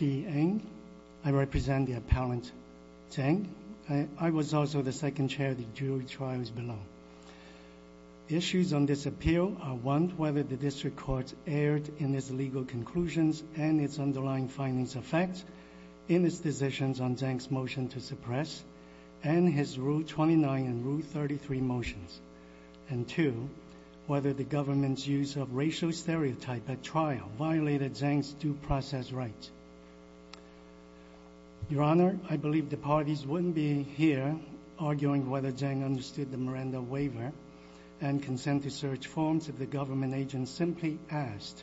I represent the appellant Zeng. I was also the second chair of the jury trials below. Issues on this appeal are 1. whether the district court erred in its legal conclusions and its underlying findings affect in its decisions on Zeng's motion to suppress and his rule 29 and rule 33 motions. And 2. whether the government's use of racial stereotypes at trial violated Zeng's due process rights. Your Honor, I believe the parties wouldn't be here arguing whether Zeng understood the Miranda waiver and consent to search forms if the government agent simply asked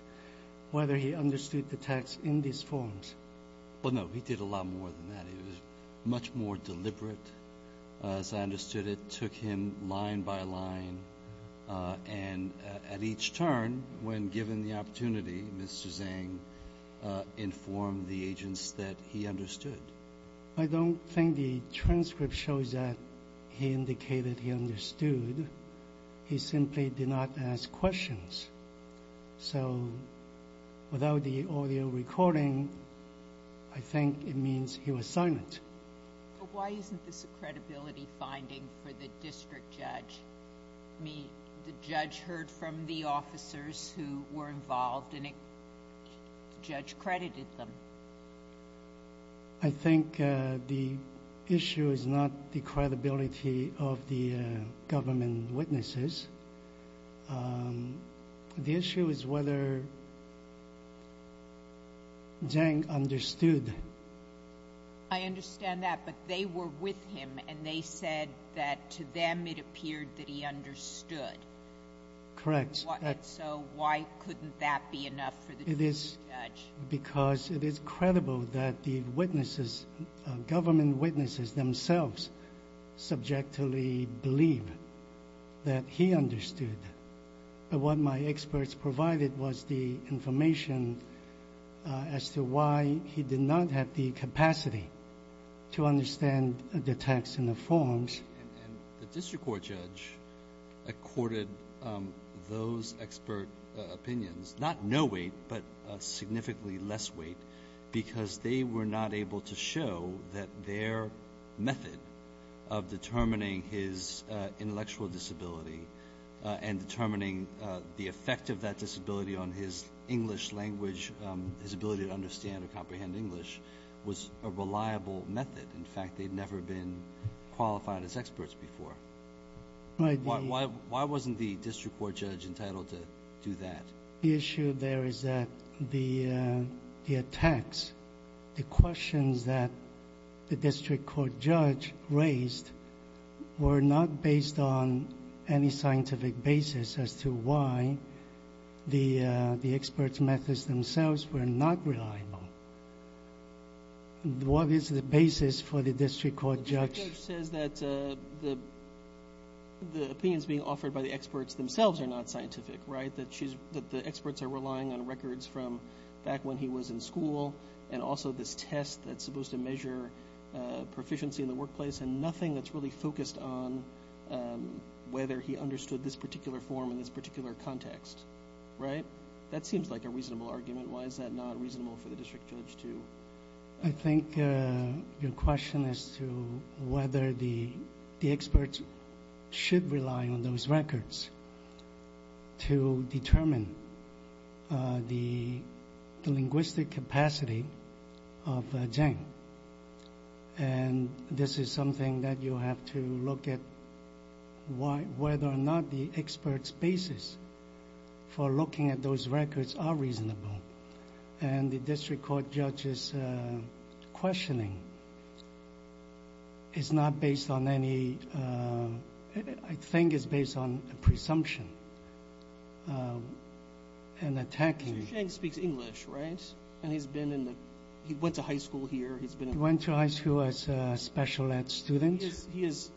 whether he understood the text in these forms. Well, no. He did a lot more than that. He was much more deliberate, as I understood it, took him line by line. And at each turn, when given the opportunity, Mr. Zeng informed the agents that he understood. I don't think the transcript shows that he indicated he understood. He simply did not ask questions. So without the audio recording, I think it means he was silent. But why isn't this a credibility finding for the district judge? I mean, the judge heard from the officers who were involved and the judge credited them. I think the issue is not the credibility of the government witnesses. The issue is whether Zeng understood. I understand that. But they were with him and they said that to them it appeared that he understood. Correct. So why couldn't that be enough for the district judge? Because it is credible that the government witnesses themselves subjectively believe that he understood. But what my experts provided was the information as to why he did not have the capacity to understand the text in the forms. And the district court judge accorded those expert opinions not no weight but significantly less weight because they were not able to show that their method of determining his intellectual disability and determining the effect of that disability on his English language, his ability to understand or comprehend English, was a reliable method. In fact, they'd never been qualified as experts before. Why wasn't the district court judge entitled to do that? The issue there is that the attacks, the questions that the district court judge raised, were not based on any scientific basis as to why the experts' methods themselves were not reliable. What is the basis for the district court judge? The judge says that the opinions being offered by the experts themselves are not scientific, right, that the experts are relying on records from back when he was in school and also this test that's supposed to measure proficiency in the workplace and nothing that's really focused on whether he understood this particular form in this particular context, right? That seems like a reasonable argument. Why is that not reasonable for the district judge to? I think your question as to whether the experts should rely on those records to determine the linguistic capacity of Zheng, and this is something that you have to look at whether or not the experts' basis for looking at those records are reasonable, and the district court judge's questioning is not based on any, I think it's based on a presumption and attacking. So Zheng speaks English, right, and he's been in the, he went to high school here. He went to high school as a special ed student. He is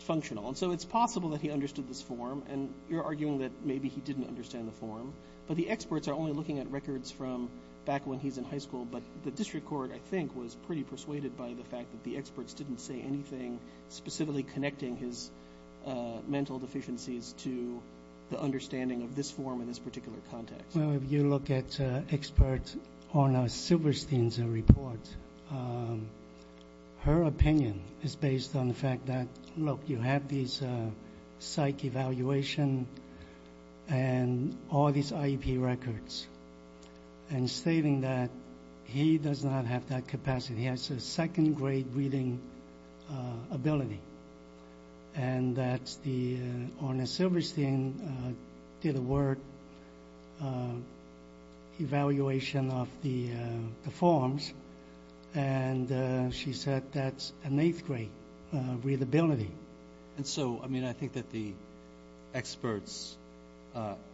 functional, and so it's possible that he understood this form, and you're arguing that maybe he didn't understand the form, but the experts are only looking at records from back when he was in high school, but the district court, I think, was pretty persuaded by the fact that the experts didn't say anything specifically connecting his mental deficiencies to the understanding of this form in this particular context. Well, if you look at experts on Silverstein's report, her opinion is based on the fact that, look, you have these psych evaluation and all these IEP records, and stating that he does not have that capacity. He has a second-grade reading ability, and that on Silverstein did a word evaluation of the forms, and she said that's an eighth-grade readability. And so, I mean, I think that the experts,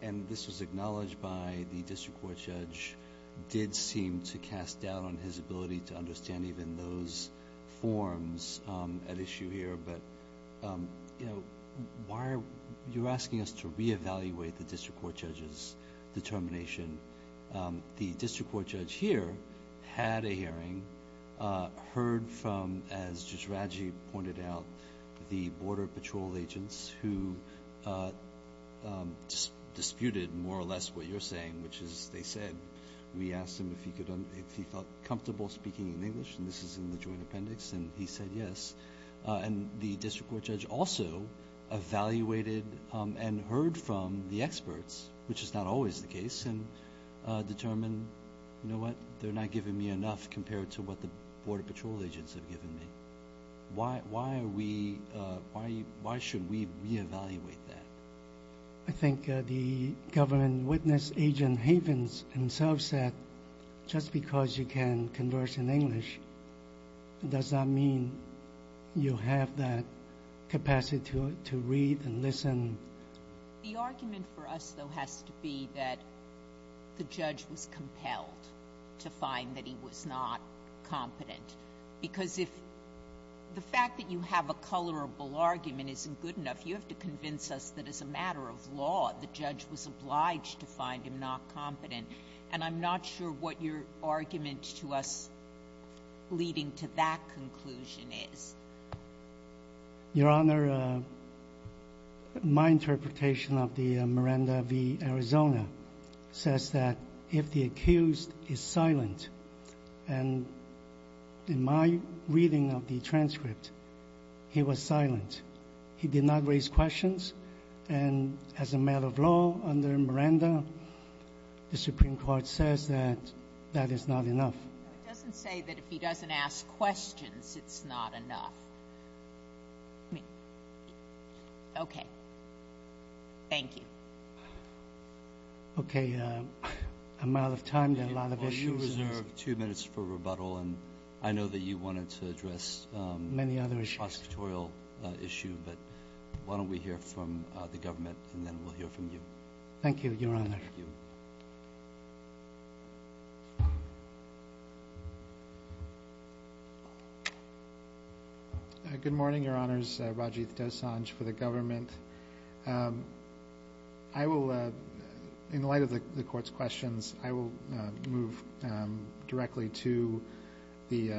and this was acknowledged by the district court judge, did seem to cast doubt on his ability to understand even those forms at issue here, but why are you asking us to reevaluate the district court judge's determination? The district court judge here had a hearing, heard from, as Judge Radji pointed out, the border patrol agents who disputed more or less what you're saying, which is they said, we asked him if he felt comfortable speaking in English, and this is in the joint appendix, and he said yes. And the district court judge also evaluated and heard from the experts, which is not always the case, and determined, you know what, they're not giving me enough compared to what the border patrol agents have given me. Why should we reevaluate that? I think the government witness, Agent Havens, himself said, just because you can converse in English, does not mean you have that capacity to read and listen. The argument for us, though, has to be that the judge was compelled to find that he was not competent, because if the fact that you have a colorable argument isn't good enough, you have to convince us that as a matter of law, the judge was obliged to find him not competent. And I'm not sure what your argument to us leading to that conclusion is. Your Honor, my interpretation of the Miranda v. Arizona says that if the accused is silent, and in my reading of the transcript, he was silent. He did not raise questions. And as a matter of law, under Miranda, the Supreme Court says that that is not enough. It doesn't say that if he doesn't ask questions, it's not enough. Okay. Thank you. Okay. I'm out of time. There are a lot of issues. Will you reserve two minutes for rebuttal? And I know that you wanted to address the prosecutorial issue, but why don't we hear from the government and then we'll hear from you. Thank you, Your Honor. Thank you. Good morning, Your Honors. Rajiv Dosanjh for the government. I will, in light of the Court's questions, I will move directly to the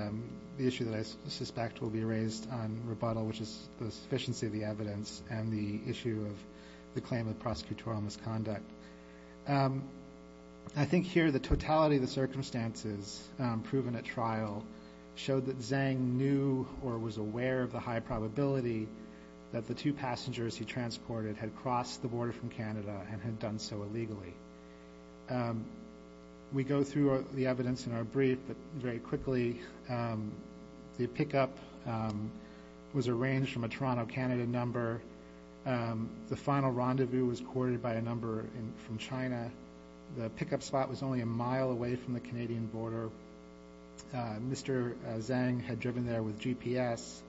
issue that I suspect will be raised on rebuttal, which is the sufficiency of the evidence and the issue of the claim of prosecutorial misconduct. I think here the totality of the circumstances proven at trial showed that Zhang knew or was aware of the high probability that the two passengers he transported had crossed the border from Canada and had done so illegally. We go through the evidence in our brief, but very quickly, the pickup was arranged from a Toronto, Canada number. The final rendezvous was courted by a number from China. The pickup spot was only a mile away from the Canadian border. Mr. Zhang had driven there with GPS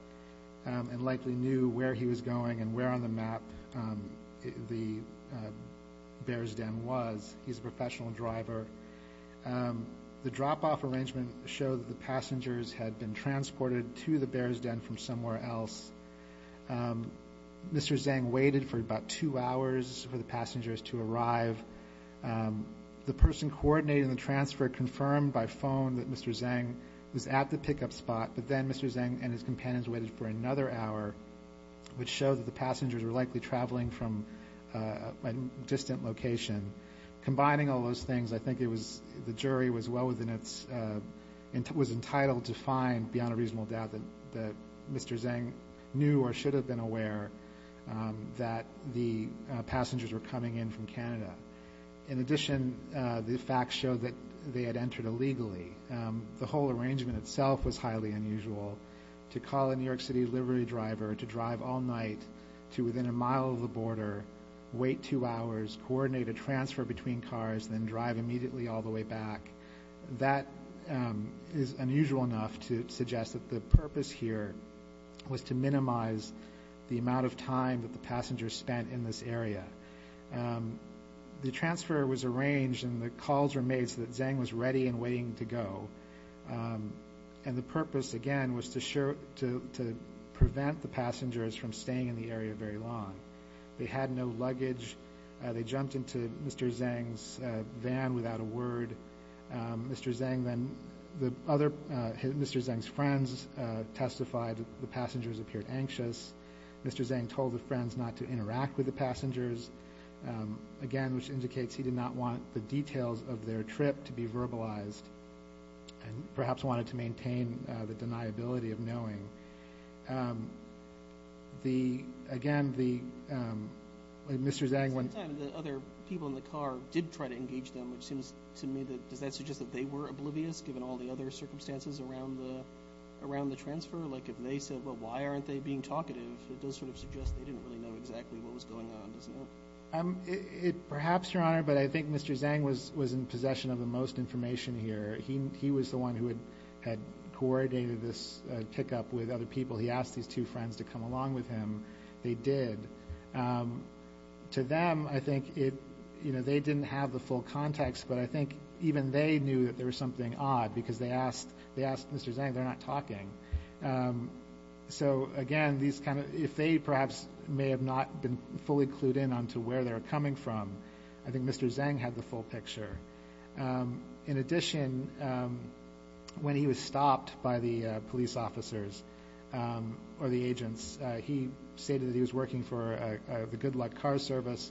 and likely knew where he was going and where on the map the Bears' Den was. He's a professional driver. The drop-off arrangement showed that the passengers had been transported to the Bears' Den from somewhere else. Mr. Zhang waited for about two hours for the passengers to arrive. The person coordinating the transfer confirmed by phone that Mr. Zhang was at the pickup spot, but then Mr. Zhang and his companions waited for another hour, which showed that the passengers were likely traveling from a distant location. Combining all those things, I think the jury was entitled to find, beyond a reasonable doubt, that Mr. Zhang knew or should have been aware that the passengers were coming in from Canada. In addition, the facts showed that they had entered illegally. The whole arrangement itself was highly unusual. To call a New York City livery driver, to drive all night to within a mile of the border, wait two hours, coordinate a transfer between cars, then drive immediately all the way back, that is unusual enough to suggest that the purpose here was to minimize the amount of time that the passengers spent in this area. The transfer was arranged and the calls were made so that Zhang was ready and waiting to go. The purpose, again, was to prevent the passengers from staying in the area very long. They had no luggage. They jumped into Mr. Zhang's van without a word. Mr. Zhang's friends testified that the passengers appeared anxious. Mr. Zhang told the friends not to interact with the passengers, again, which indicates he did not want the details of their trip to be verbalized Again, Mr. Zhang went... At the same time, the other people in the car did try to engage them. It seems to me that, does that suggest that they were oblivious, given all the other circumstances around the transfer? Like if they said, well, why aren't they being talkative? It does sort of suggest they didn't really know exactly what was going on, doesn't it? Perhaps, Your Honor, but I think Mr. Zhang was in possession of the most information here. He was the one who had coordinated this pickup with other people. He asked these two friends to come along with him. They did. To them, I think they didn't have the full context, but I think even they knew that there was something odd, because they asked Mr. Zhang. They're not talking. So, again, these kind of... If they perhaps may have not been fully clued in on to where they were coming from, I think Mr. Zhang had the full picture. In addition, when he was stopped by the police officers or the agents, he stated that he was working for the Good Luck Car Service.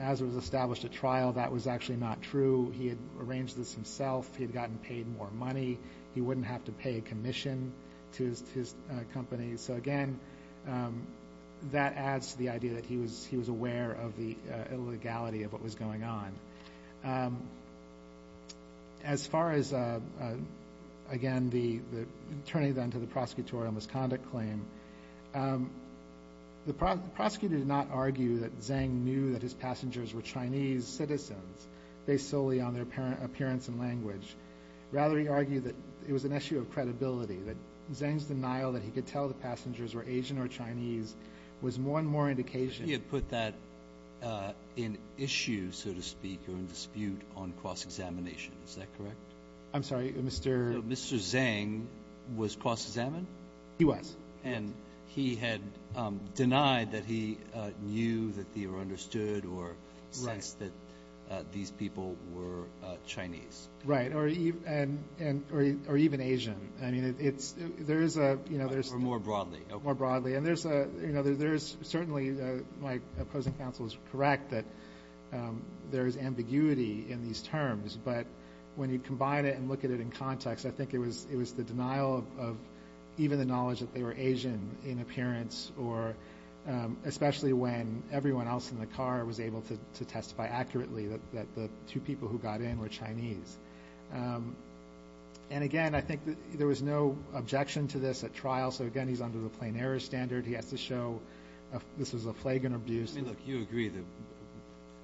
As it was established at trial, that was actually not true. He had arranged this himself. He had gotten paid more money. He wouldn't have to pay a commission to his company. So, again, that adds to the idea that he was aware of the illegality of what was going on. As far as, again, turning then to the prosecutorial misconduct claim, the prosecutor did not argue that Zhang knew that his passengers were Chinese citizens, based solely on their appearance and language. Rather, he argued that it was an issue of credibility, that Zhang's denial that he could tell the passengers were Asian or Chinese was one more indication. He had put that in issue, so to speak, or in dispute on cross-examination. Is that correct? I'm sorry, Mr. Mr. Zhang was cross-examined? He was. And he had denied that he knew that they were understood or sensed that these people were Chinese. Right, or even Asian. Or more broadly. More broadly. And certainly my opposing counsel is correct that there is ambiguity in these terms, but when you combine it and look at it in context, I think it was the denial of even the knowledge that they were Asian in appearance, or especially when everyone else in the car was able to testify accurately that the two people who got in were Chinese. And, again, I think there was no objection to this at trial, so, again, he's under the plain error standard. He has to show this was a flagrant abuse. I mean, look, you agree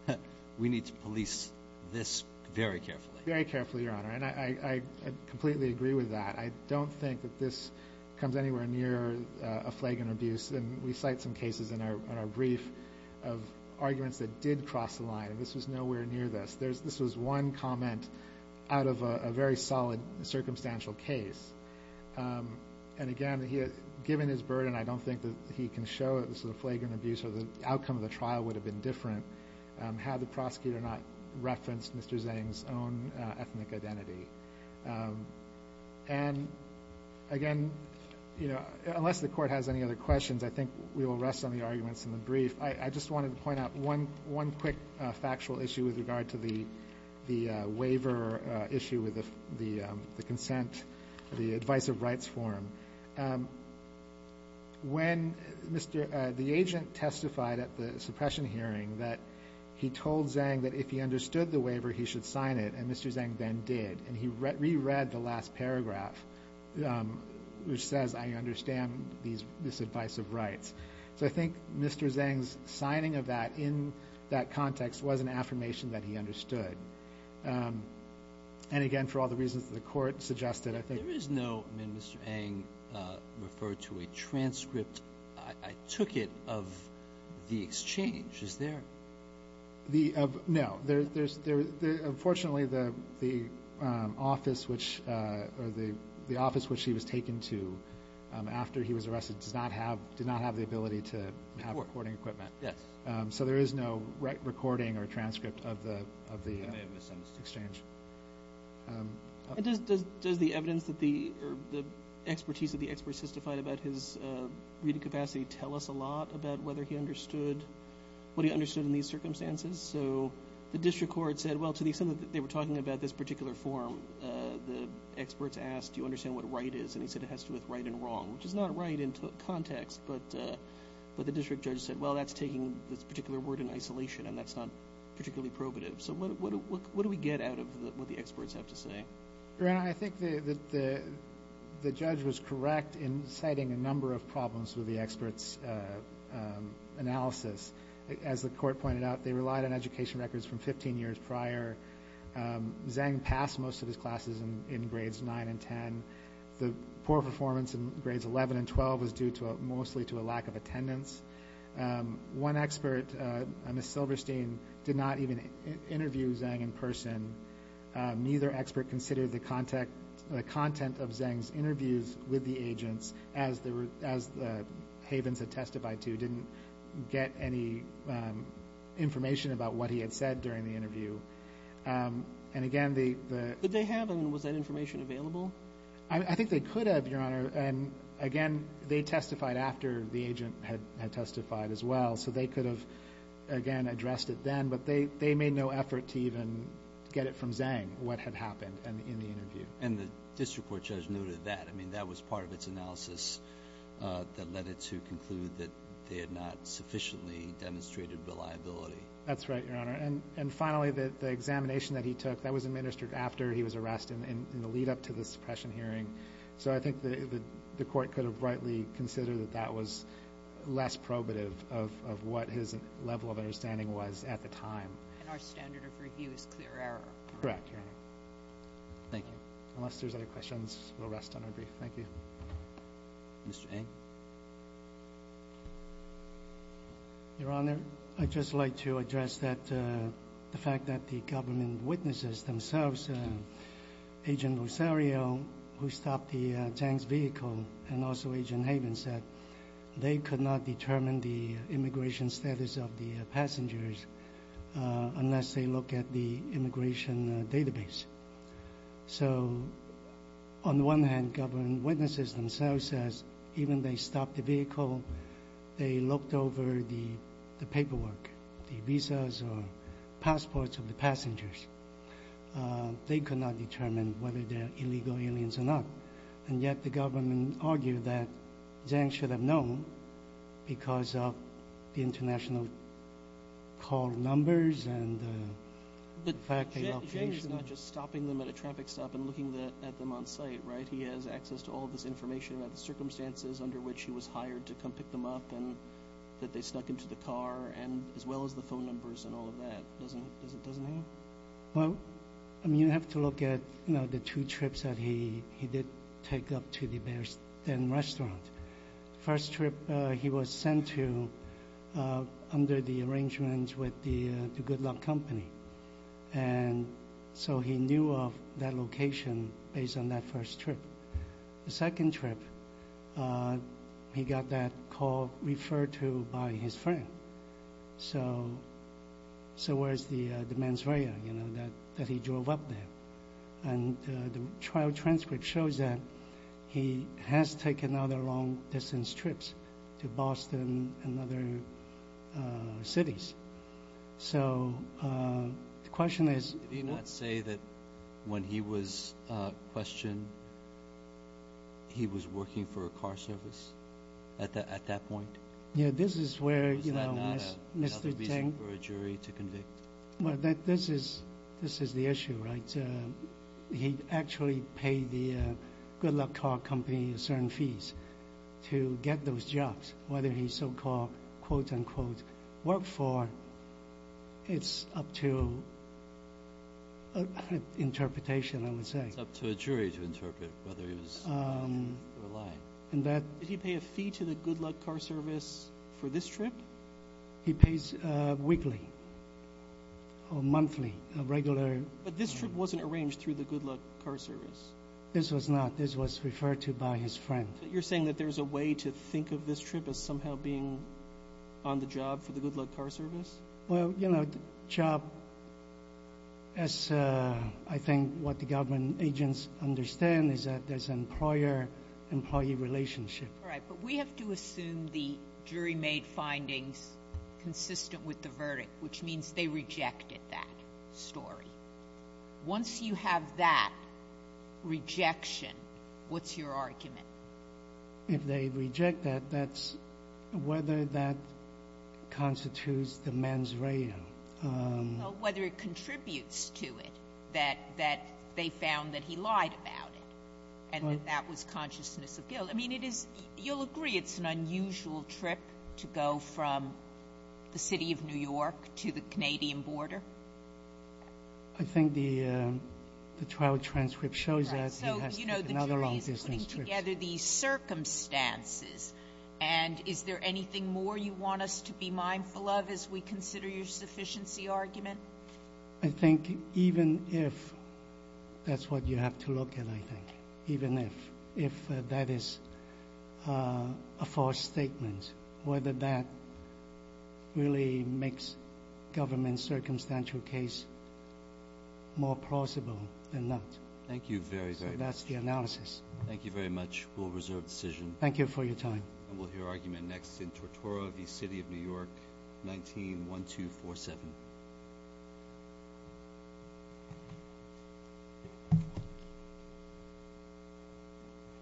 that we need to police this very carefully. Very carefully, Your Honor, and I completely agree with that. I don't think that this comes anywhere near a flagrant abuse, and we cite some cases in our brief of arguments that did cross the line. This was nowhere near this. This was one comment out of a very solid circumstantial case. And, again, given his burden, I don't think that he can show that this was a flagrant abuse or the outcome of the trial would have been different had the prosecutor not referenced Mr. Zhang's own ethnic identity. And, again, you know, unless the Court has any other questions, I think we will rest on the arguments in the brief. I just wanted to point out one quick factual issue with regard to the waiver issue with the consent, the advice of rights form. When the agent testified at the suppression hearing that he told Zhang that if he understood the waiver, he should sign it, and Mr. Zhang then did, and he reread the last paragraph, which says, I understand this advice of rights. So I think Mr. Zhang's signing of that in that context was an affirmation that he understood. And, again, for all the reasons that the Court suggested, I think – There is no – I mean, Mr. Ang referred to a transcript. I took it of the exchange. Is there – No. Unfortunately, the office which he was taken to after he was arrested did not have the ability to have recording equipment. So there is no recording or transcript of the exchange. Does the evidence that the – or the expertise of the experts testified about his reading capacity tell us a lot about whether he understood – The district court said, well, to the extent that they were talking about this particular form, the experts asked, do you understand what right is, and he said it has to do with right and wrong, which is not right in context, but the district judge said, well, that's taking this particular word in isolation, and that's not particularly probative. So what do we get out of what the experts have to say? Brian, I think that the judge was correct in citing a number of problems with the experts' analysis. As the court pointed out, they relied on education records from 15 years prior. Zhang passed most of his classes in grades 9 and 10. The poor performance in grades 11 and 12 was due mostly to a lack of attendance. One expert, Ms. Silverstein, did not even interview Zhang in person. Neither expert considered the content of Zhang's interviews with the agents, as the havens had testified to didn't get any information about what he had said during the interview. And again, the – Did they have and was that information available? I think they could have, Your Honor, and again, they testified after the agent had testified as well, so they could have, again, addressed it then, but they made no effort to even get it from Zhang, what had happened in the interview. And the district court judge noted that. I mean, that was part of its analysis that led it to conclude that they had not sufficiently demonstrated reliability. That's right, Your Honor. And finally, the examination that he took, that was administered after he was arrested in the lead-up to the suppression hearing. So I think the court could have rightly considered that that was less probative of what his level of understanding was at the time. And our standard of review is clear error. Correct, Your Honor. Thank you. Unless there's other questions, we'll rest on our brief. Thank you. Mr. Eng. Your Honor, I'd just like to address the fact that the government witnesses themselves, Agent Rosario, who stopped Zhang's vehicle, and also Agent Havens, they could not determine the immigration status of the passengers unless they look at the immigration database. So on the one hand, government witnesses themselves said even they stopped the vehicle, they looked over the paperwork, the visas or passports of the passengers. They could not determine whether they're illegal aliens or not. And yet the government argued that Zhang should have known because of the international call numbers and the fact that location. But Zhang is not just stopping them at a traffic stop and looking at them on site, right? He has access to all of this information about the circumstances under which he was hired to come pick them up and that they snuck into the car, as well as the phone numbers and all of that, doesn't he? Well, you have to look at the two trips that he did take up to the Bear's Den restaurant. The first trip, he was sent to under the arrangements with the Good Luck Company. And so he knew of that location based on that first trip. The second trip, he got that call referred to by his friend. So where is the mens rea that he drove up there? And the trial transcript shows that he has taken other long-distance trips to Boston and other cities. So the question is— Did he not say that when he was questioned, he was working for a car service at that point? Was that not another reason for a jury to convict? This is the issue, right? He actually paid the Good Luck Car Company certain fees to get those jobs, whether he so-called, quote-unquote, worked for, it's up to interpretation, I would say. It's up to a jury to interpret whether he was lying. Did he pay a fee to the Good Luck Car Service for this trip? He pays weekly or monthly, a regular— But this trip wasn't arranged through the Good Luck Car Service. This was not. This was referred to by his friend. You're saying that there's a way to think of this trip as somehow being on the job for the Good Luck Car Service? Well, you know, job, as I think what the government agents understand, is that there's an employer-employee relationship. All right. But we have to assume the jury made findings consistent with the verdict, which means they rejected that story. Once you have that rejection, what's your argument? If they reject that, that's whether that constitutes the mens rea. Well, whether it contributes to it, that they found that he lied about it and that that was consciousness of guilt. I mean, it is — you'll agree it's an unusual trip to go from the city of New York to the Canadian border? I think the trial transcript shows that. So, you know, the jury is putting together these circumstances. And is there anything more you want us to be mindful of as we consider your sufficiency argument? I think even if — that's what you have to look at, I think. Even if that is a false statement, whether that really makes government's circumstantial case more plausible than not. Thank you very, very much. So that's the analysis. Thank you very much. We'll reserve the decision. Thank you for your time. And we'll hear argument next in Tortora v. City of New York, 19-1247.